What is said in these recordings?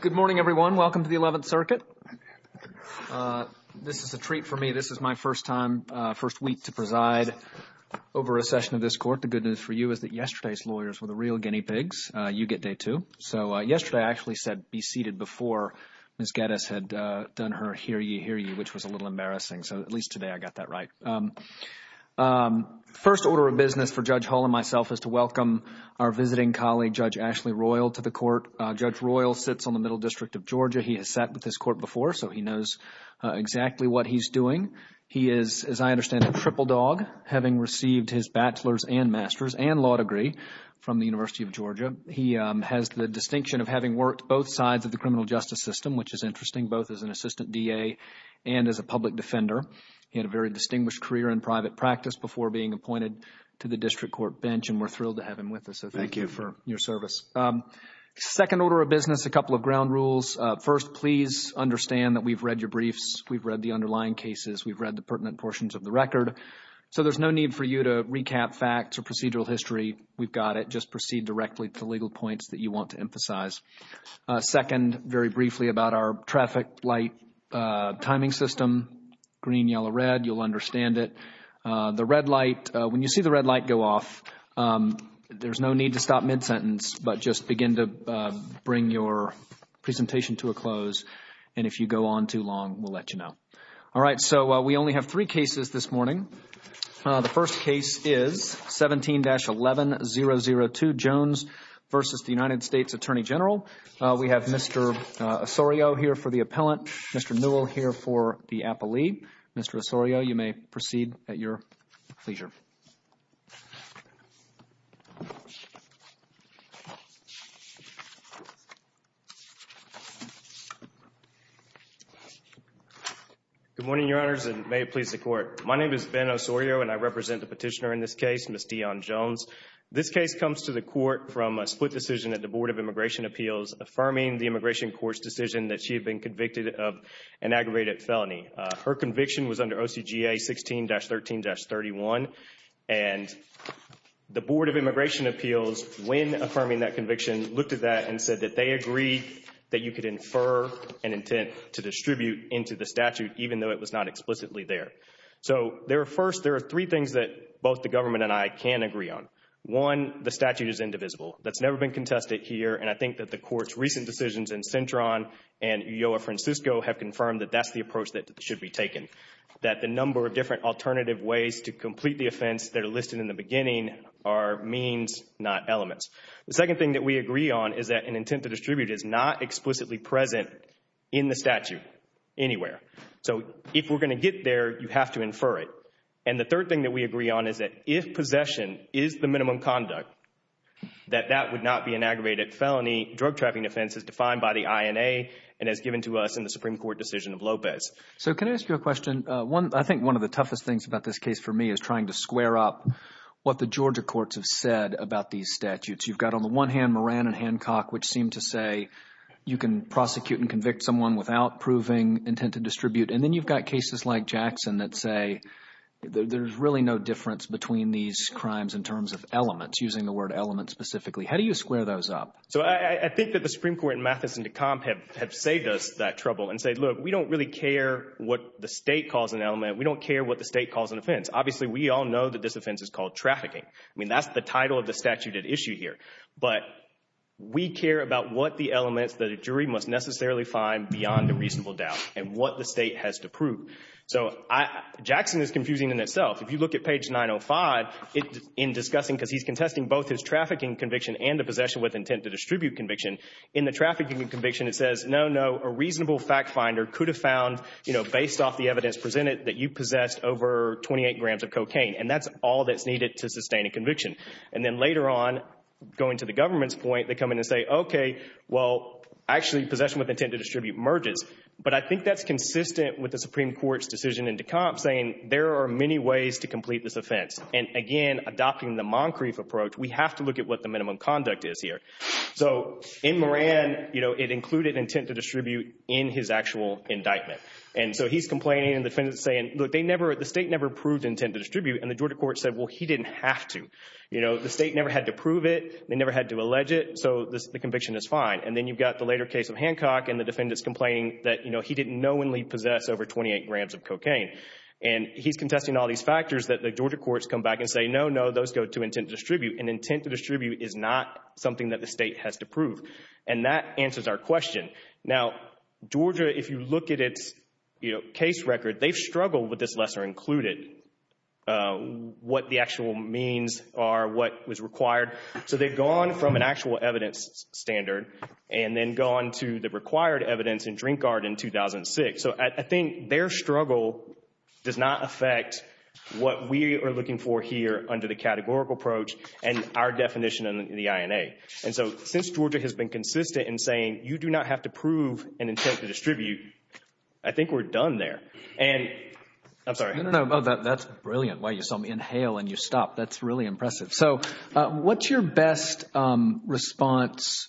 Good morning, everyone. Welcome to the Eleventh Circuit. This is a treat for me. This is my first time, first week to preside over a session of this court. The good news for you is that yesterday's lawyers were the real guinea pigs. You get day two. So yesterday I actually said be seated before Ms. Geddes had done her hear you, hear you, which was a little embarrassing. So at least today I got that right. First order of business for Judge Hull and myself is to welcome our visiting colleague, Judge Ashley Royal, to the court. Judge Royal sits on the Middle District of Georgia. He has sat with this court before, so he knows exactly what he's doing. He is, as I understand it, a triple dog, having received his bachelor's and master's and law degree from the University of Georgia. He has the distinction of having worked both sides of the criminal justice system, which is interesting, both as an assistant DA and as a public defender. He had a very distinguished career in private practice before being appointed to the district court bench, and we're thrilled to have him with us. Thank you for your service. Second order of business, a couple of ground rules. First, please understand that we've read your briefs. We've read the underlying cases. We've read the pertinent portions of the record. So there's no need for you to recap facts or procedural history. We've got it. Just proceed directly to legal points that you want to emphasize. Second, very briefly about our traffic light timing system, green, yellow, red. You'll see the red light go off. There's no need to stop mid-sentence, but just begin to bring your presentation to a close, and if you go on too long, we'll let you know. All right. So we only have three cases this morning. The first case is 17-11-002, Jones v. the United States Attorney General. We have Mr. Osorio here for the appellant, Mr. Osorio, you may proceed at your pleasure. Good morning, Your Honors, and may it please the Court. My name is Ben Osorio, and I represent the petitioner in this case, Ms. Dionne Jones. This case comes to the Court from a split decision at the Board of Immigration Appeals affirming the Immigration Court's decision that she had been convicted of an aggravated felony. Her conviction was under OCGA 16-13-31, and the Board of Immigration Appeals, when affirming that conviction, looked at that and said that they agreed that you could infer an intent to distribute into the statute even though it was not explicitly there. So there are three things that both the government and I can agree on. One, the statute is indivisible. That's never been contested here, and I think that the Court's recent decisions in Cintron and Ulloa Francisco have confirmed that that's the approach that should be taken. That the number of different alternative ways to complete the offense that are listed in the beginning are means, not elements. The second thing that we agree on is that an intent to distribute is not explicitly present in the statute anywhere. So if we're going to get there, you have to infer it. And the third thing that we agree on is that if possession is the minimum conduct, that that would not be an aggravated felony. Drug trapping offense is defined by the INA and as given to us in the Supreme Court decision of Lopez. So can I ask you a question? I think one of the toughest things about this case for me is trying to square up what the Georgia courts have said about these statutes. You've got on the one hand Moran and Hancock, which seem to say you can prosecute and convict someone without proving intent to distribute. And then you've got cases like Jackson that say there's really no difference between these crimes in terms of elements, using the word element specifically. How do you square those up? So I think that the Supreme Court and Mathis and Decomp have saved us that trouble and said, look, we don't really care what the state calls an element. We don't care what the state calls an offense. Obviously, we all know that this offense is called trafficking. I mean, that's the title of the statute at issue here. But we care about what the elements that a jury must necessarily find beyond the reasonable doubt and what the state has to prove. So Jackson is confusing in itself. If you look at page 905 in discussing, because he's contesting both his trafficking conviction and the possession with intent to distribute conviction. In the trafficking conviction, it says, no, no, a reasonable fact finder could have found, you know, based off the evidence presented, that you possessed over 28 grams of cocaine. And that's all that's needed to sustain a conviction. And then later on, going to the government's point, they come in and say, OK, well, actually possession with intent to distribute merges. But I think that's consistent with the Supreme Court's decision in Decomp saying there are many ways to complete this offense. And again, adopting the Moncrief approach, we have to look at what the minimum conduct is here. So in Moran, you know, it included intent to distribute in his actual indictment. And so he's complaining and the defendant's saying, look, they never, the state never proved intent to distribute. And the Georgia court said, well, he didn't have to. You know, the state never had to prove it. They never had to allege it. So the conviction is fine. And then you've got the later case of Hancock and the defendant's complaining that, you know, he didn't knowingly possess over 28 grams of cocaine. And he's contesting all these factors that the Georgia courts come back and say, no, no, those go to intent to distribute. And intent to distribute is not something that the state has to prove. And that answers our question. Now, Georgia, if you look at its case record, they've struggled with this lesser included, what the actual means are, what was required. So they've gone from an actual evidence standard and then gone to the required evidence in Drinkard in 2006. So I think their struggle does not affect what we are looking for here under the categorical approach and our definition in the INA. And so since Georgia has been consistent in saying, you do not have to prove an intent to distribute, I think we're done there. And I'm sorry. No, no, no. That's brilliant. Wow, you saw me inhale and you stopped. That's really impressive. So what's your best response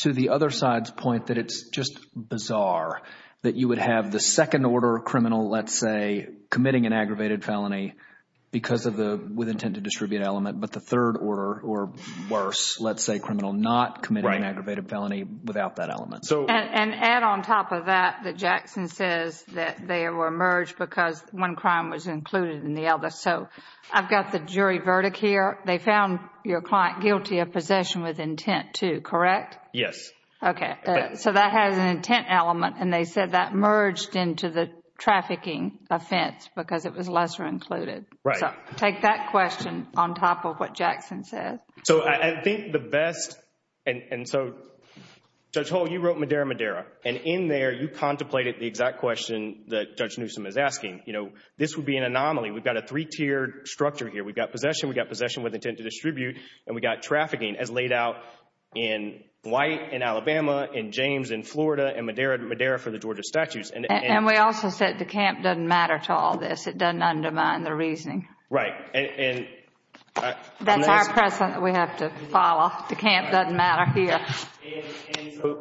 to the other side's point that it's just bizarre that you would have the second order criminal, let's say, committing an aggravated felony because of the with intent to distribute element, but the third order or worse, let's say, criminal not committing an aggravated felony without that element. And add on top of that, that Jackson says that they were merged because one crime was included in the other. So I've got the jury verdict here. They found your client guilty of possession with intent too, correct? Yes. Okay. So that has an intent element. And they said that merged into the trafficking offense because it was lesser included. Right. So take that question on top of what Jackson says. So I think the best, and so Judge Hull, you wrote Madera, Madera. And in there, you contemplated the exact question that Judge Newsom is asking. You know, this would be an anomaly. We've got a three-tiered structure here. We've got possession, we've got possession with intent to distribute, and we've got trafficking as laid out in White, in Alabama, in James, in Florida, and Madera for the Georgia statutes. And we also said DeCamp doesn't matter to all this. It doesn't undermine the reasoning. Right. And That's our precedent that we have to follow. DeCamp doesn't matter here.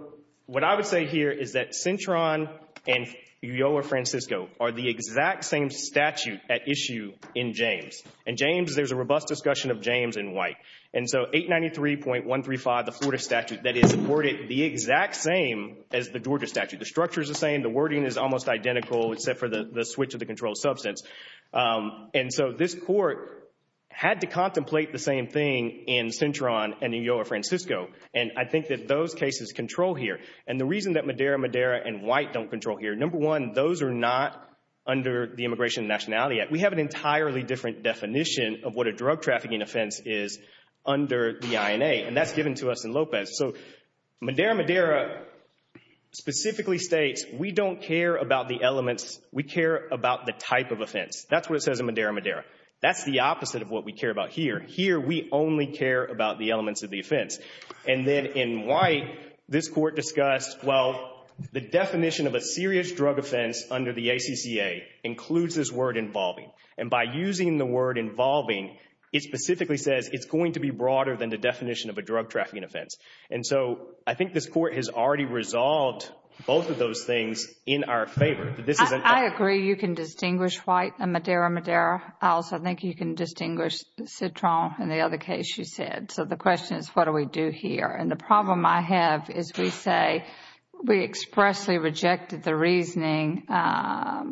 What I would say here is that Cintron and Ulloa Francisco are the exact same statute at issue in James. In James, there's a robust discussion of James in White. And so 893.135, the Florida statute, that is worded the exact same as the Georgia statute. The structure is the same. The wording is almost identical except for the switch of the controlled substance. And so this Court had to contemplate the same thing in Cintron and Ulloa Francisco. And I think that those cases control here. And the reason that Madera, Madera, and White don't control here, number one, those are not under the Immigration and Nationality Act. We have an entirely different definition of what a drug trafficking offense is under the INA. And that's given to us in Lopez. So Madera, Madera specifically states we don't care about the elements. We care about the type of offense. That's what it says in Madera, Madera. That's the opposite of what we care about here. Here, we only care about the elements of the offense. And then in White, this Court discussed, well, the definition of a serious drug offense under the ACCA includes this word involving. And by using the word involving, it specifically says it's going to be broader than the definition of a drug trafficking offense. And so I think this Court has already resolved both of those things in our favor. This is an I agree you can distinguish White and Madera, Madera. I also think you can distinguish Cintron in the other case you said. So the question is what do we do here? And the problem I have is we say we expressly rejected the reasoning that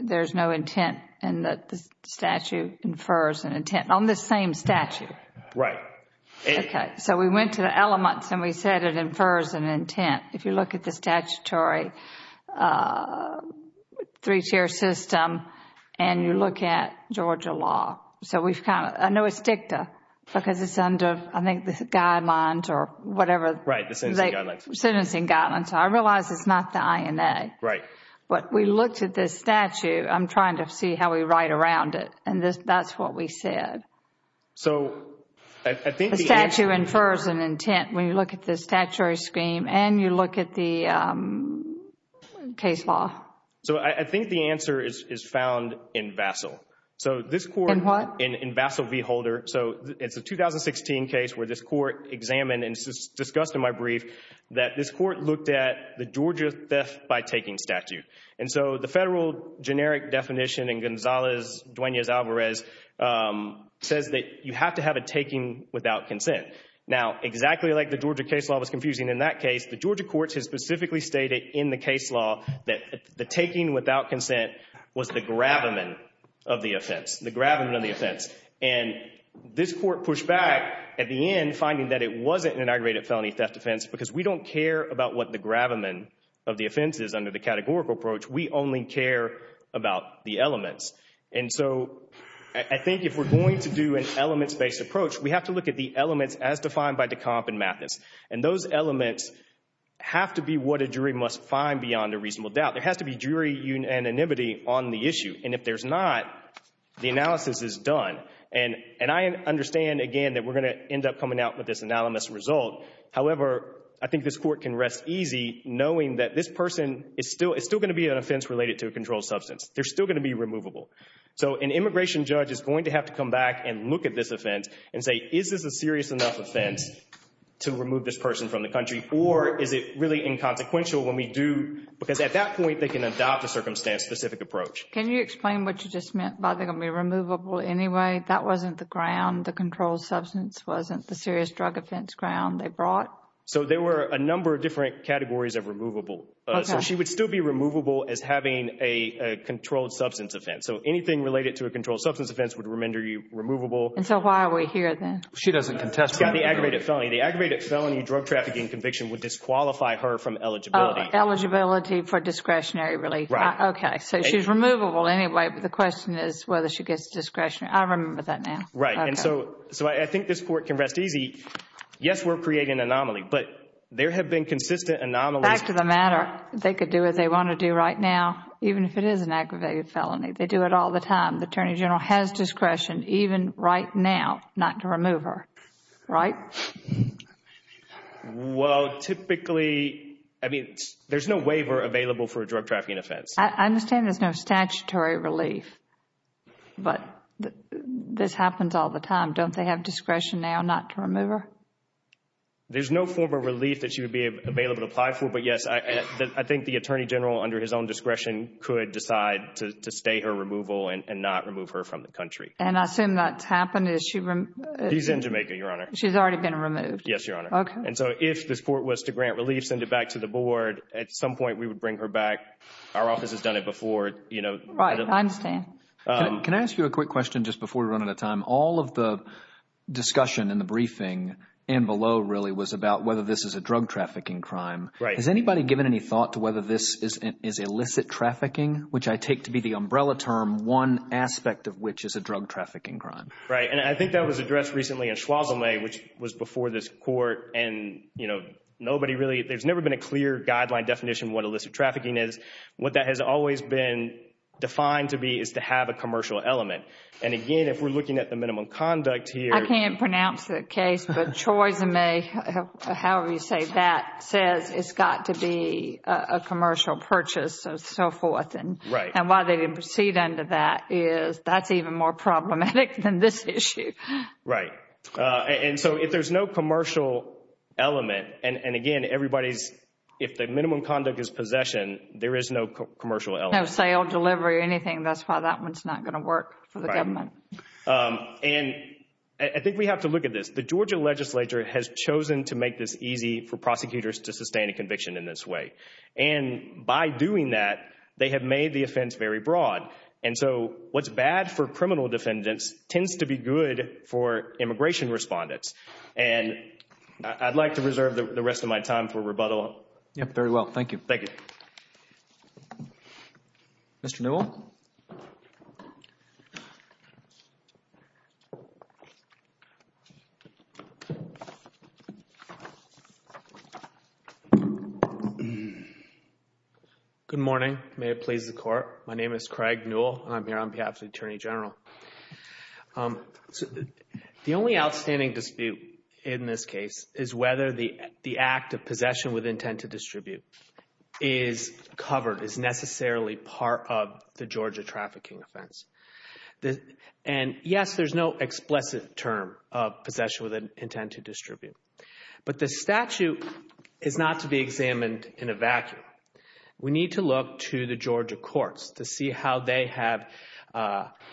there's no intent and that the statute infers an intent on this same statute. Right. Okay. So we went to the elements and we said it infers an intent. If you look at the statutory three-tier system and you look at Georgia law, so we've kind of, I know it's DICTA because it's under, I think, the guidelines or whatever. Right, the sentencing guidelines. Sentencing guidelines. So I realize it's not the INA. Right. But we looked at this statute. I'm trying to see how we write around it. And that's what we said. So I think the answer is The statute infers an intent when you look at the statutory scheme and you look at the case law. So I think the answer is found in Vassil. So this Court In what? In Vassil v. Holder. So it's a 2016 case where this Court examined and discussed in my brief that this Court looked at the Georgia theft by taking statute. And so the federal generic definition in Gonzalez-Duenas-Alvarez says that you have to have a taking without consent. Now, exactly like the Georgia case law was confusing in that case, the Georgia courts have specifically stated in the case law that the taking without consent was the grabberman of the offense. The grabberman of the offense. And this Court pushed back at the end finding that it wasn't an aggravated felony theft offense because we don't care about what the grabberman of the offense is under the categorical approach. We only care about the elements. And so I think if we're going to do an elements-based approach, we have to look at the elements as defined by Decomp and Mathis. And those elements have to be what a jury must find beyond a reasonable doubt. There has to be jury unanimity on the issue. And if there's not, the analysis is done. And I understand, again, that we're going to end up coming out with this anonymous result. However, I think this Court can rest easy knowing that this person is still going to be an offense related to a controlled substance. They're still going to be removable. So an immigration judge is going to have to come back and look at this offense and say, is this a serious enough offense to remove this person from the country? Or is it really inconsequential when we do? Because at that point, they can adopt a circumstance-specific approach. Can you explain what you just meant by they're going to be removable anyway? That wasn't the ground, the controlled substance wasn't the serious drug offense ground they brought? So there were a number of different categories of removable. So she would still be removable as having a controlled substance offense. So anything related to a controlled substance offense would remember you removable. And so why are we here then? She doesn't contest the aggravated felony. The aggravated felony drug trafficking conviction would disqualify her from eligibility. Eligibility for discretionary relief. Okay. So she's removable anyway, but the question is whether she gets discretionary. I remember that now. Right. And so I think this Court can rest easy. Yes, we're creating an anomaly, but there have been consistent anomalies. Back to the matter. They could do what they want to do right now, even if it is an aggravated felony. They do it all the time. The Attorney General has discretion, even right now, not to remove her. Right? Well, typically, I mean, there's no waiver available for a drug trafficking offense. I understand there's no statutory relief, but this happens all the time. Don't they have discretion now not to remove her? There's no form of relief that she would be available to apply for. But yes, I think the Attorney General, under his own discretion, could decide to stay her removal and not remove her from the country. And I assume that's happened. Is she removed? She's in Jamaica, Your Honor. She's already been removed. Yes, Your Honor. Okay. And so if this Court was to grant relief, send it back to the Board, at some point we would bring her back. Our office has done it before. Right. I understand. Can I ask you a quick question just before we run out of time? All of the discussion in the briefing and below really was about whether this is a drug trafficking crime. Right. Has anybody given any thought to whether this is illicit trafficking, which I take to be the umbrella term, one aspect of which is a drug trafficking crime? Right. And I think that was addressed recently in Schwozome, which was before this Court. And, you know, nobody really, there's never been a clear guideline definition of what illicit trafficking is. What that has always been defined to be is to have a commercial element. And again, if we're looking at the minimum conduct here... I can't pronounce the case, but Schwozome, however you say that, says it's got to be a commercial purchase and so forth. Right. And why they didn't proceed under that is that's even more problematic than this issue. Right. And so if there's no commercial element, and again, everybody's, if the minimum conduct is possession, there is no commercial element. No sale, delivery, anything. That's why that one's not going to work for the government. And I think we have to look at this. The Georgia legislature has chosen to make this easy for very broad. And so what's bad for criminal defendants tends to be good for immigration respondents. And I'd like to reserve the rest of my time for rebuttal. Yep. Very well. Thank you. Thank you. Mr. Newell. Good morning. May it please the Court. My name is Craig Newell, and I'm here on behalf of the Attorney General. The only outstanding dispute in this case is whether the act of possession with intent to distribute is covered, is necessarily part of the Georgia trafficking offense. And yes, there's no explicit term of possession with intent to distribute. But the statute is not to be examined in a vacuum. We need to look to the Georgia courts to see how they have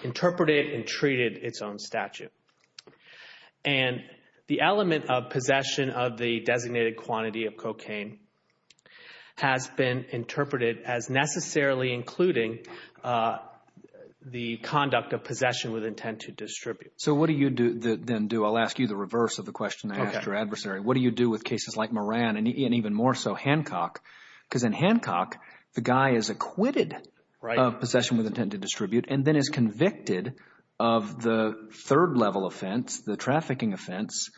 interpreted and treated its own statute. And the element of possession of the designated quantity of cocaine has been interpreted as necessarily including the conduct of possession with intent to distribute. So what do you then do? I'll ask you the reverse of the question I asked your adversary. What do you do with cases like Moran and even more so Hancock? Because in Hancock, the guy is acquitted of possession with intent to distribute and then is convicted of the third-level offense, the trafficking offense,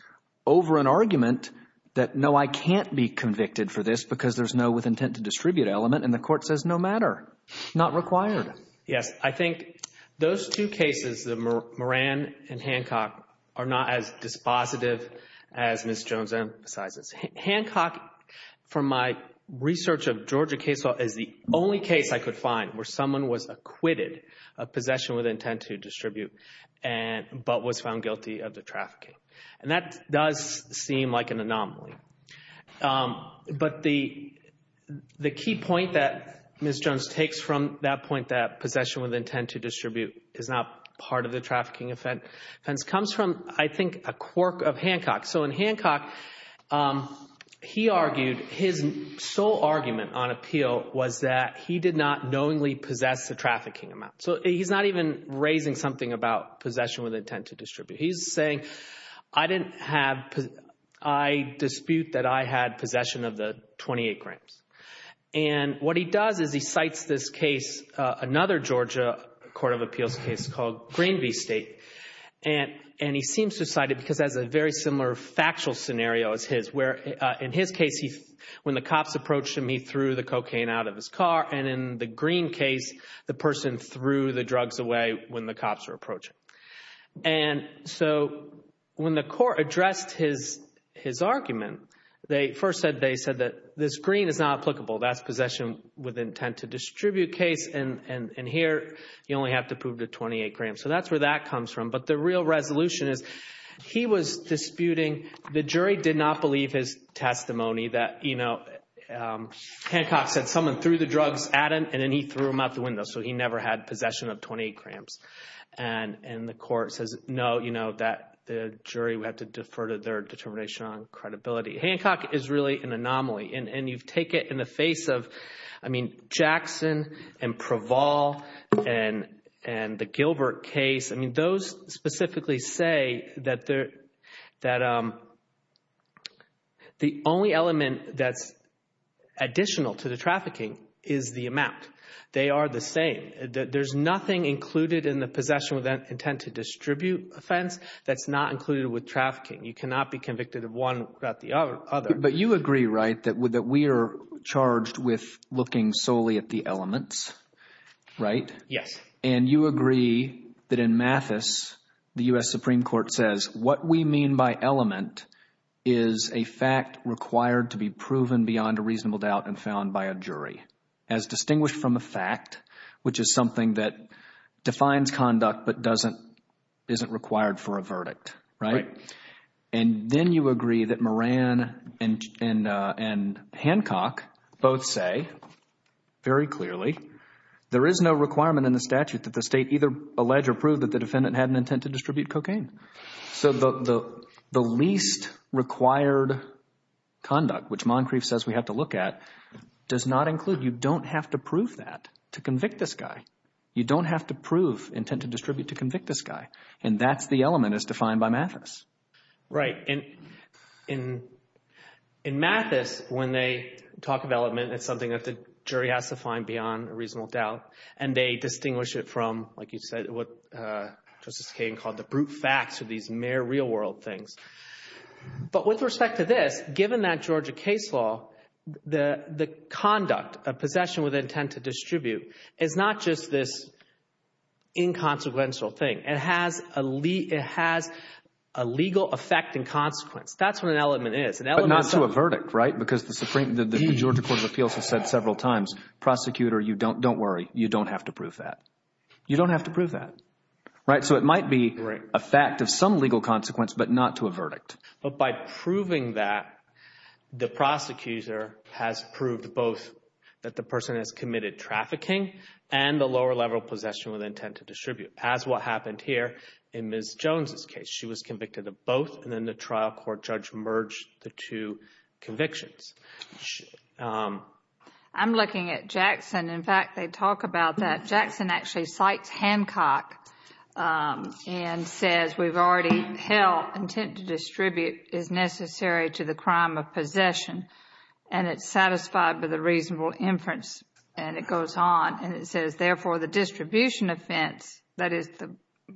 over an argument that no, I can't be convicted for this because there's no with intent to distribute element, and the Court says no matter, not required. Yes. I think those two cases, the Moran and Hancock, are not as dispositive as Ms. Jones emphasizes. Hancock, from my research of Georgia case law, is the only case I could find where someone was acquitted of possession with intent to distribute but was found guilty of the trafficking. And that does seem like an anomaly. But the key point that Ms. Jones takes from that point that possession with intent to distribute is not part of the trafficking offense comes from, I think, a quirk of Hancock. So in Hancock, he argued his sole argument on appeal was that he did not knowingly possess the trafficking amount. So he's not even raising something about possession with intent to distribute. He's saying, I dispute that I had possession of the 28 grams. And what he does is he cites this case, another Georgia Court of Appeals case called Greenby State, and he seems to cite it because it has a very similar factual scenario as his where in his case, when the cops approached him, he threw the cocaine out of his car. And in the Green case, the person threw the drugs away when the cops were approaching. And so when the Court addressed his argument, they first said, they said that this Green is not applicable. That's possession with intent to distribute case, and here you only have to prove the 28 grams. So that's where that comes from. But the real resolution is he was disputing, the jury did not believe his testimony that, you know, Hancock said someone threw the drugs at him and then he threw them out the window. So he never had possession of 28 grams. And the court says, no, you know, that the jury would have to defer to their determination on credibility. Hancock is really an anomaly, and you take it in the face of, I mean, Jackson and Praval and the Gilbert case, I mean, those specifically say that the only element that's additional to the trafficking is the amount. They are the same. There's nothing included in the possession with intent to distribute offense that's not included with trafficking. You cannot be convicted of one without the other. But you agree, right, that we are charged with looking solely at the elements, right? Yes. And you agree that in Mathis, the U.S. Supreme Court says what we mean by element is a fact required to be proven beyond a reasonable doubt and found by a jury, as distinguished from a fact, which is something that defines conduct but isn't required for a verdict, right? Right. And then you agree that Moran and Hancock both say very clearly there is no requirement in the statute that the state either allege or prove that the defendant had an intent to distribute cocaine. So the least required conduct, which Moncrief says we have to look at, does not include. You don't have to prove that to convict this guy. You don't have to prove intent to distribute to convict this guy. And that's the element as defined by Mathis. Right. And in Mathis, when they talk of element, it's something that the jury has to find beyond a reasonable doubt. And they distinguish it from, like you said, what Justice Kagan called the brute facts of these mere real-world things. But with respect to this, given that Georgia case law, the conduct of possession with intent to distribute is not just this inconsequential thing. It has a legal effect and consequence. That's what an element is. But not to a verdict, right? Because the Georgia Court of Appeals has said several times, prosecutor, don't worry. You don't have to prove that. You don't have to prove that. Right? So it might be a fact of some legal consequence, but not to a verdict. But by proving that, the prosecutor has proved both that the person has committed trafficking and the lower-level possession with intent to distribute, as what happened here in Ms. Jones' case. She was convicted of both, and then the trial court judge merged the two convictions. I'm looking at Jackson. In fact, they talk about that. And says, we've already held intent to distribute is necessary to the crime of possession. And it's satisfied by the reasonable inference. And it goes on, and it says, therefore, the distribution offense, that is, the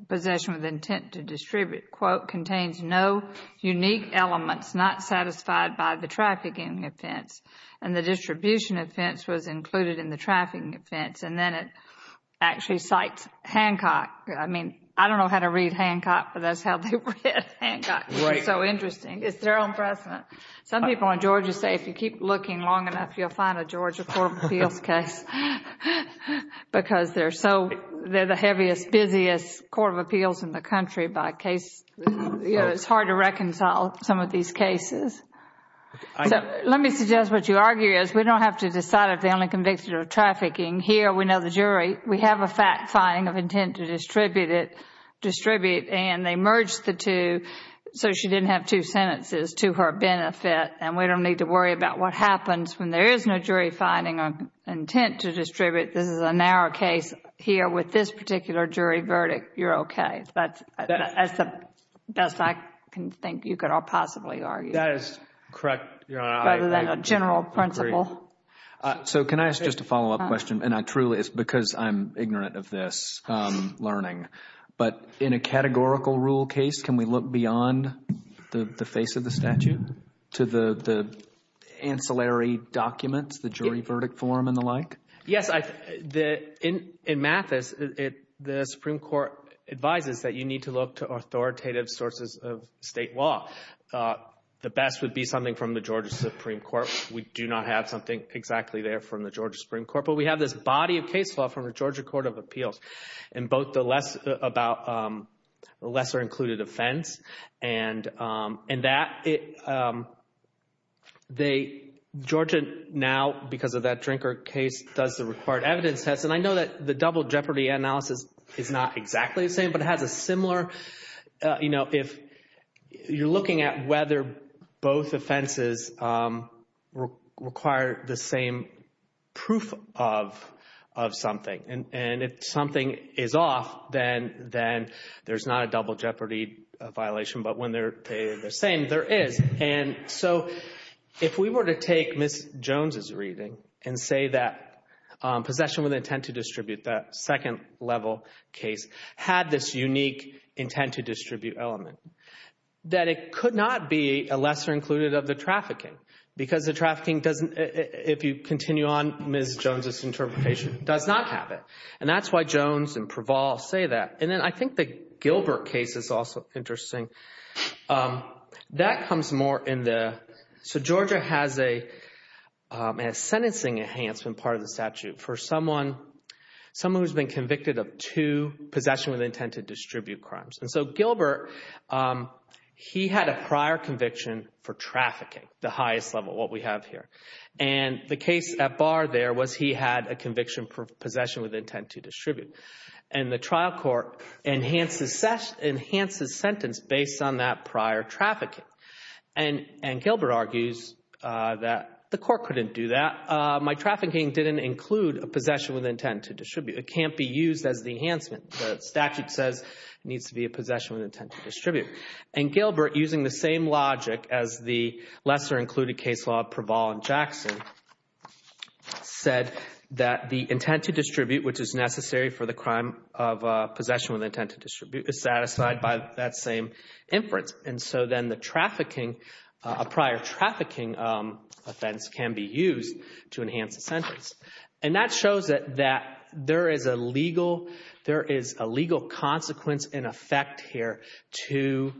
possession with intent to distribute, quote, contains no unique elements not satisfied by the trafficking offense. And the distribution offense was included in the trafficking offense. And then it actually cites Hancock. I mean, I don't know how to read Hancock, but that's how they read Hancock. It's so interesting. It's their own precedent. Some people in Georgia say, if you keep looking long enough, you'll find a Georgia Court of Appeals case. Because they're so, they're the heaviest, busiest court of appeals in the country by case. You know, it's hard to reconcile some of these cases. Let me suggest what you argue is, we don't have to decide if they're only convicted of trafficking. Here, we know the jury. We have a fact-finding of intent to distribute it, and they merged the two so she didn't have two sentences to her benefit. And we don't need to worry about what happens when there is no jury finding of intent to distribute. This is a narrow case. Here with this particular jury verdict, you're okay. That's the best I can think you could possibly argue. That is correct, Your Honor. I agree. Rather than a general principle. So can I ask just a follow-up question? And I truly, it's because I'm ignorant of this learning. But in a categorical rule case, can we look beyond the face of the statute to the ancillary documents, the jury verdict form and the like? Yes. In Mathis, the Supreme Court advises that you need to look to authoritative sources of state law. The best would be something from the Georgia Supreme Court. We do not have something exactly there from the Georgia Supreme Court, but we have this body of case law from the Georgia Court of Appeals. In both the lesser-included offense and that, Georgia now, because of that Drinker case, does the required evidence test. And I know that the double jeopardy analysis is not exactly the same, but it has a similar, you know, if you're looking at whether both offenses require the same proof of something. And if something is off, then there's not a double jeopardy violation. But when they're the same, there is. And so if we were to take Ms. Jones' reading and say that possession with intent to distribute, that second level case, had this unique intent to distribute element, that it could not be a lesser-included of the trafficking. Because the trafficking doesn't, if you continue on Ms. Jones' interpretation, does not have it. And that's why Jones and Praval say that. And then I think the Gilbert case is also interesting. That comes more in the, so Georgia has a sentencing enhancement part of the statute. For someone who's been convicted of two possession with intent to distribute crimes. And so Gilbert, he had a prior conviction for trafficking, the highest level, what we have here. And the case at bar there was he had a conviction for possession with intent to distribute. And the trial court enhances sentence based on that prior trafficking. And Gilbert argues that the court couldn't do that. My trafficking didn't include a possession with intent to distribute. It can't be used as the enhancement. The statute says it needs to be a possession with intent to distribute. And Gilbert, using the same logic as the lesser-included case law of Praval and Jackson, said that the intent to distribute, which is necessary for the crime of possession with intent to distribute, is satisfied by that same inference. And so then the trafficking, a prior trafficking offense can be used to enhance the sentence. And that shows that there is a legal consequence in effect here to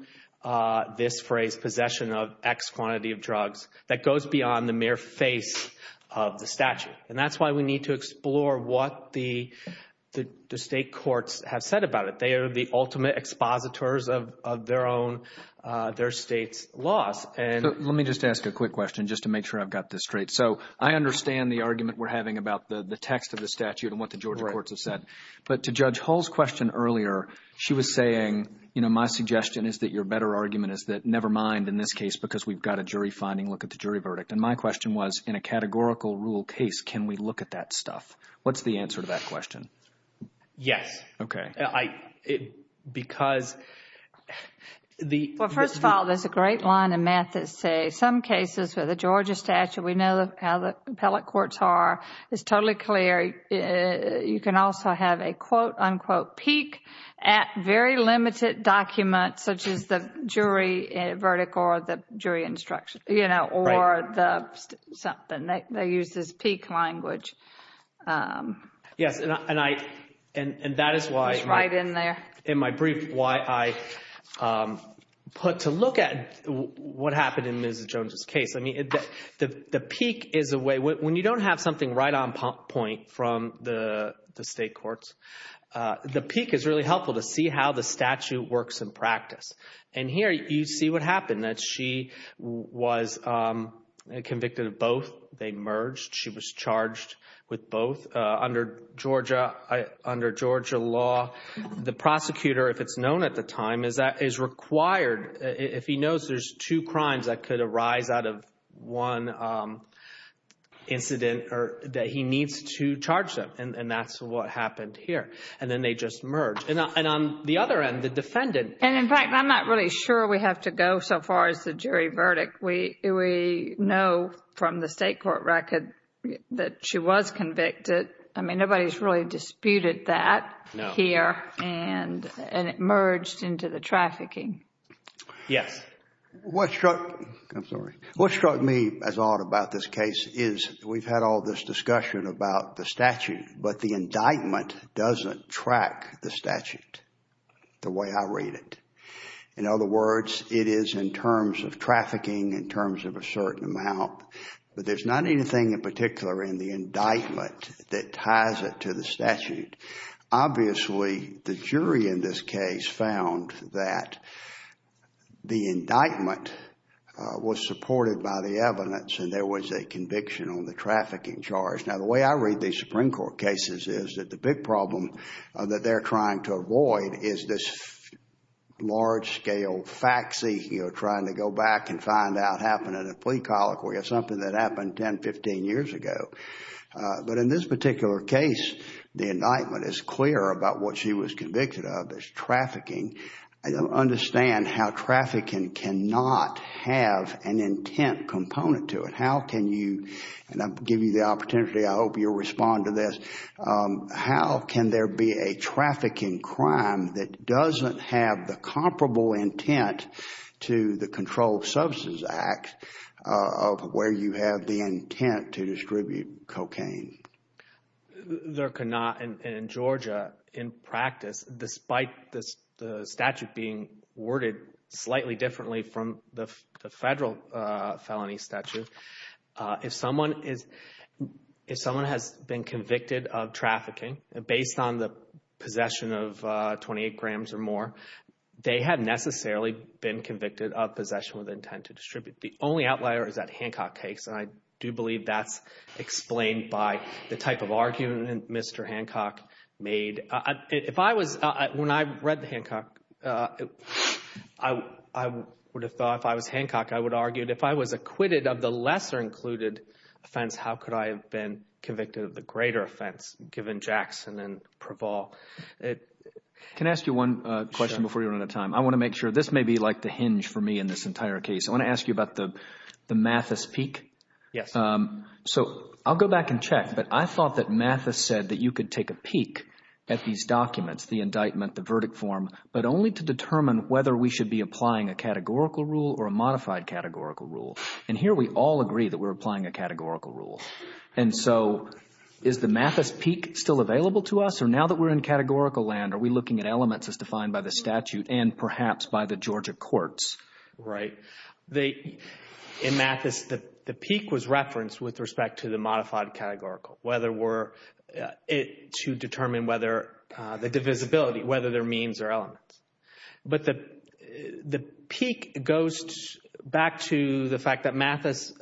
this phrase possession of X quantity of drugs that goes beyond the mere face of the statute. And that's why we need to explore what the state courts have said about it. They are the ultimate expositors of their own, their state's laws. Let me just ask a quick question, just to make sure I've got this straight. So I understand the argument we're having about the text of the statute and what the Georgia courts have said. But to Judge Hull's question earlier, she was saying, you know, my suggestion is that your better argument is that never mind in this case because we've got a jury finding, look at the jury verdict. And my question was, in a categorical rule case, can we look at that stuff? What's the answer to that question? Yes. Yes. Okay. Because the Well, first of all, there's a great line in math that says some cases where the Georgia statute, we know how the appellate courts are, it's totally clear. You can also have a quote, unquote, peak at very limited documents such as the jury verdict or the jury instruction, you know, or the something. They use this peak language. Yes. And I, and that is why It's right in there. In my brief, why I put to look at what happened in Ms. Jones' case. I mean, the peak is a way, when you don't have something right on point from the state courts, the peak is really helpful to see how the statute works in practice. And here you see what happened, that she was convicted of both. They merged. She was charged with both under Georgia law. The prosecutor, if it's known at the time, is required, if he knows there's two crimes that could arise out of one incident, that he needs to charge them. And that's what happened here. And then they just merged. And on the other end, the defendant And in fact, I'm not really sure we have to go so far as the jury verdict. We know from the state court record that she was convicted. I mean, nobody's really disputed that here. No. And it merged into the trafficking. Yes. What struck, I'm sorry. What struck me as odd about this case is we've had all this discussion about the statute, but the indictment doesn't track the statute the way I read it. In other words, it is in terms of trafficking, in terms of a certain amount. But there's not anything in particular in the indictment that ties it to the statute. Obviously, the jury in this case found that the indictment was supported by the evidence and there was a conviction on the trafficking charge. Now, the way I read these Supreme Court cases is that the big problem that they're trying to avoid is this large-scale faxy, you know, trying to go back and find out, happened at a plea colloquy or something that happened 10, 15 years ago. But in this particular case, the indictment is clear about what she was convicted of as trafficking. I don't understand how trafficking cannot have an intent component to it. How can you, and I'll give you the opportunity, I hope you'll respond to this, how can there be a trafficking crime that doesn't have the comparable intent to the Control of Substance Act of where you have the intent to distribute cocaine? There cannot in Georgia, in practice, despite the statute being worded slightly differently from the federal felony statute, if someone has been convicted of trafficking based on the possession of 28 grams or more, they have necessarily been convicted of possession with intent to distribute. The only outlier is that Hancock case, and I do believe that's explained by the type of argument Mr. Hancock made. If I was, when I read the Hancock, I would have thought if I was Hancock, I would argue if I was acquitted of the lesser included offense, how could I have been convicted of the greater offense given Jackson and Praval? Can I ask you one question before we run out of time? I want to make sure, this may be like the hinge for me in this entire case. I want to ask you about the Mathis peak. Yes. So I'll go back and check, but I thought that Mathis said that you could take a peak at these documents, the indictment, the verdict form, but only to determine whether we should be applying a categorical rule or a modified categorical rule. And here we all agree that we're applying a categorical rule. And so is the Mathis peak still available to us, or now that we're in categorical land, are we looking at elements as defined by the statute and perhaps by the Georgia courts? Right. In Mathis, the peak was referenced with respect to the modified categorical, whether we're to determine whether the divisibility, whether there are means or elements. But the peak goes back to the fact that Mathis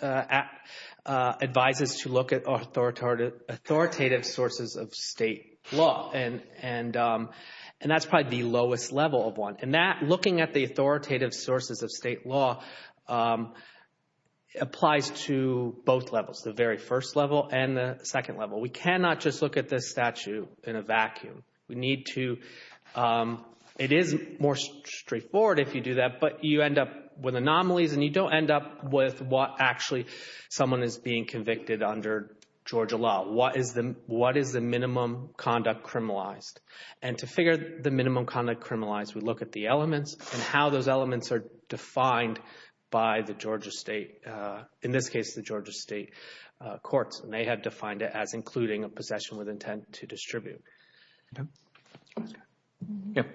advises to look at authoritative sources of state law, and that's probably the lowest level of one. And looking at the authoritative sources of state law applies to both levels, the very first level and the second level. We cannot just look at this statute in a vacuum. We need to—it is more straightforward if you do that, but you end up with anomalies, and you don't end up with what actually someone is being convicted under Georgia law. What is the minimum conduct criminalized? And to figure the minimum conduct criminalized, we look at the elements and how those elements are defined by the Georgia state, in this case the Georgia state courts, and they have defined it as including a possession with intent to distribute.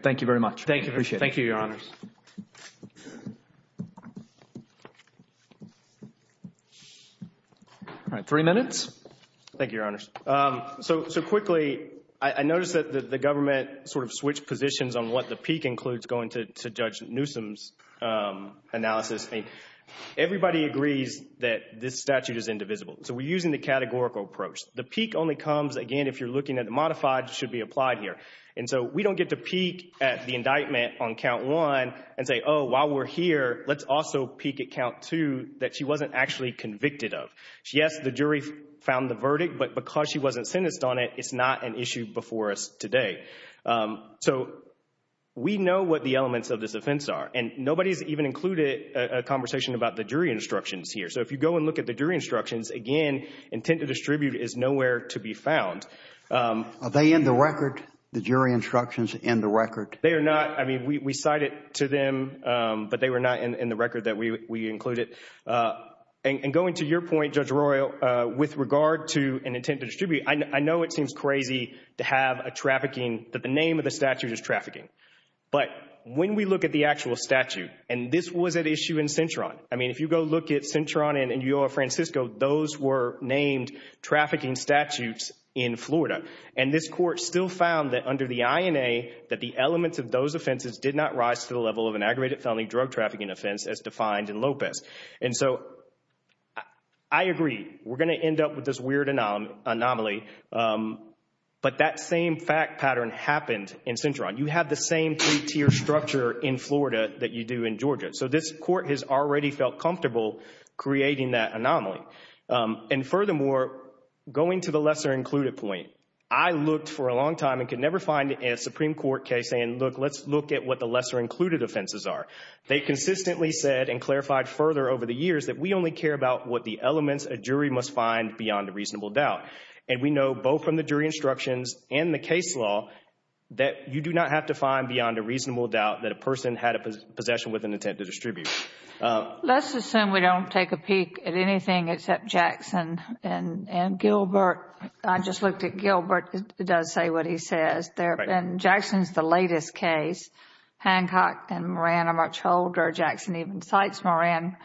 Thank you very much. Thank you. Appreciate it. Thank you, Your Honors. All right. Three minutes. Thank you, Your Honors. So quickly, I noticed that the government sort of switched positions on what the peak includes going to Judge Newsom's analysis. Everybody agrees that this statute is indivisible, so we're using the categorical approach. The peak only comes, again, if you're looking at the modified, should be applied here. And so we don't get to peak at the indictment on count one and say, oh, while we're here, let's also peak at count two that she wasn't actually convicted of. Yes, the jury found the verdict, but because she wasn't sentenced on it, it's not an issue before us today. So we know what the elements of this offense are, and nobody has even included a conversation about the jury instructions here. So if you go and look at the jury instructions, again, intent to distribute is nowhere to be found. Are they in the record, the jury instructions in the record? They are not. I mean, we cite it to them, but they were not in the record that we included. And going to your point, Judge Royal, with regard to an intent to distribute, I know it seems crazy to have a trafficking that the name of the statute is trafficking. But when we look at the actual statute, and this was at issue in Cintron. I mean, if you go look at Cintron and in Yolo Francisco, those were named trafficking statutes in Florida. And this court still found that under the INA that the elements of those offenses did not rise to the level of an aggravated felony drug trafficking offense as defined in Lopez. And so I agree. We're going to end up with this weird anomaly, but that same fact pattern happened in Cintron. You have the same three-tier structure in Florida that you do in Georgia. So this court has already felt comfortable creating that anomaly. And furthermore, going to the lesser included point, I looked for a long time and could never find a Supreme Court case saying, look, let's look at what the lesser included offenses are. They consistently said and clarified further over the years that we only care about what the elements a jury must find beyond a reasonable doubt. And we know both from the jury instructions and the case law that you do not have to find beyond a reasonable doubt that a person had a possession with an intent to distribute. Let's assume we don't take a peek at anything except Jackson and Gilbert. I just looked at Gilbert. It does say what he says. And Jackson is the latest case. Hancock and Moran are much older. Jackson even cites Moran.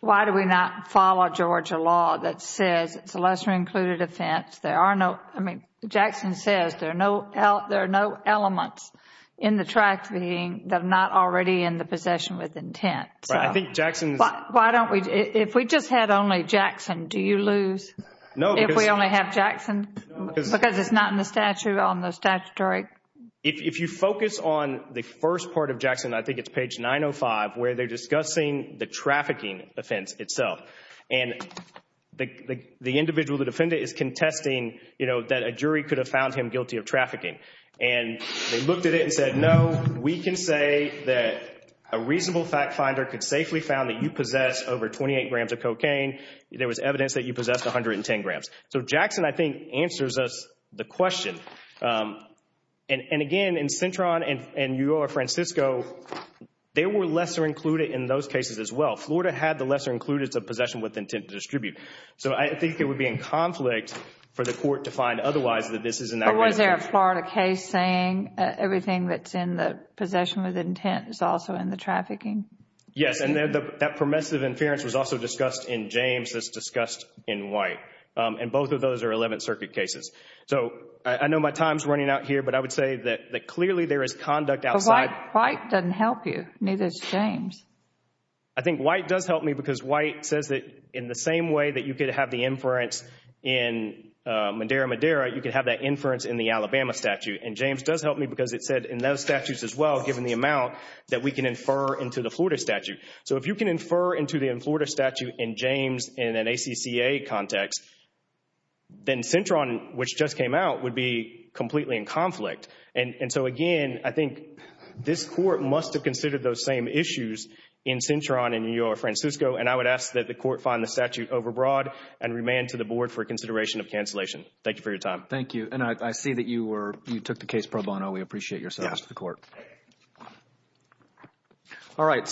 Why do we not follow Georgia law that says it's a lesser included offense? There are no, I mean, Jackson says there are no elements in the trafficking that are not already in the possession with intent. Right. I think Jackson is. Why don't we, if we just had only Jackson, do you lose if we only have Jackson? Because it's not in the statute on the statutory. If you focus on the first part of Jackson, I think it's page 905, where they're discussing the trafficking offense itself. And the individual, the defendant, is contesting, you know, that a jury could have found him guilty of trafficking. And they looked at it and said, no, we can say that a reasonable fact finder could safely found that you possess over 28 grams of cocaine. There was evidence that you possessed 110 grams. So Jackson, I think, answers us the question. And, again, in Cintron and Ugo or Francisco, they were lesser included in those cases as well. Florida had the lesser included as a possession with intent to distribute. So I think it would be in conflict for the court to find otherwise that this is not. But was there a Florida case saying everything that's in the possession with intent is also in the trafficking? Yes, and that permissive inference was also discussed in James as discussed in White. And both of those are 11th Circuit cases. So I know my time is running out here, but I would say that clearly there is conduct outside. But White doesn't help you, neither does James. I think White does help me because White says that in the same way that you could have the inference in Madera Madera, you could have that inference in the Alabama statute. And James does help me because it said in those statutes as well, given the amount, that we can infer into the Florida statute. So if you can infer into the Florida statute in James in an ACCA context, then Cintron, which just came out, would be completely in conflict. And so, again, I think this court must have considered those same issues in Cintron and Ugo or Francisco. And I would ask that the court find the statute overbroad and remand to the board for consideration of cancellation. Thank you for your time. Thank you. And I see that you took the case pro bono. We appreciate your service to the court. Yes. All right.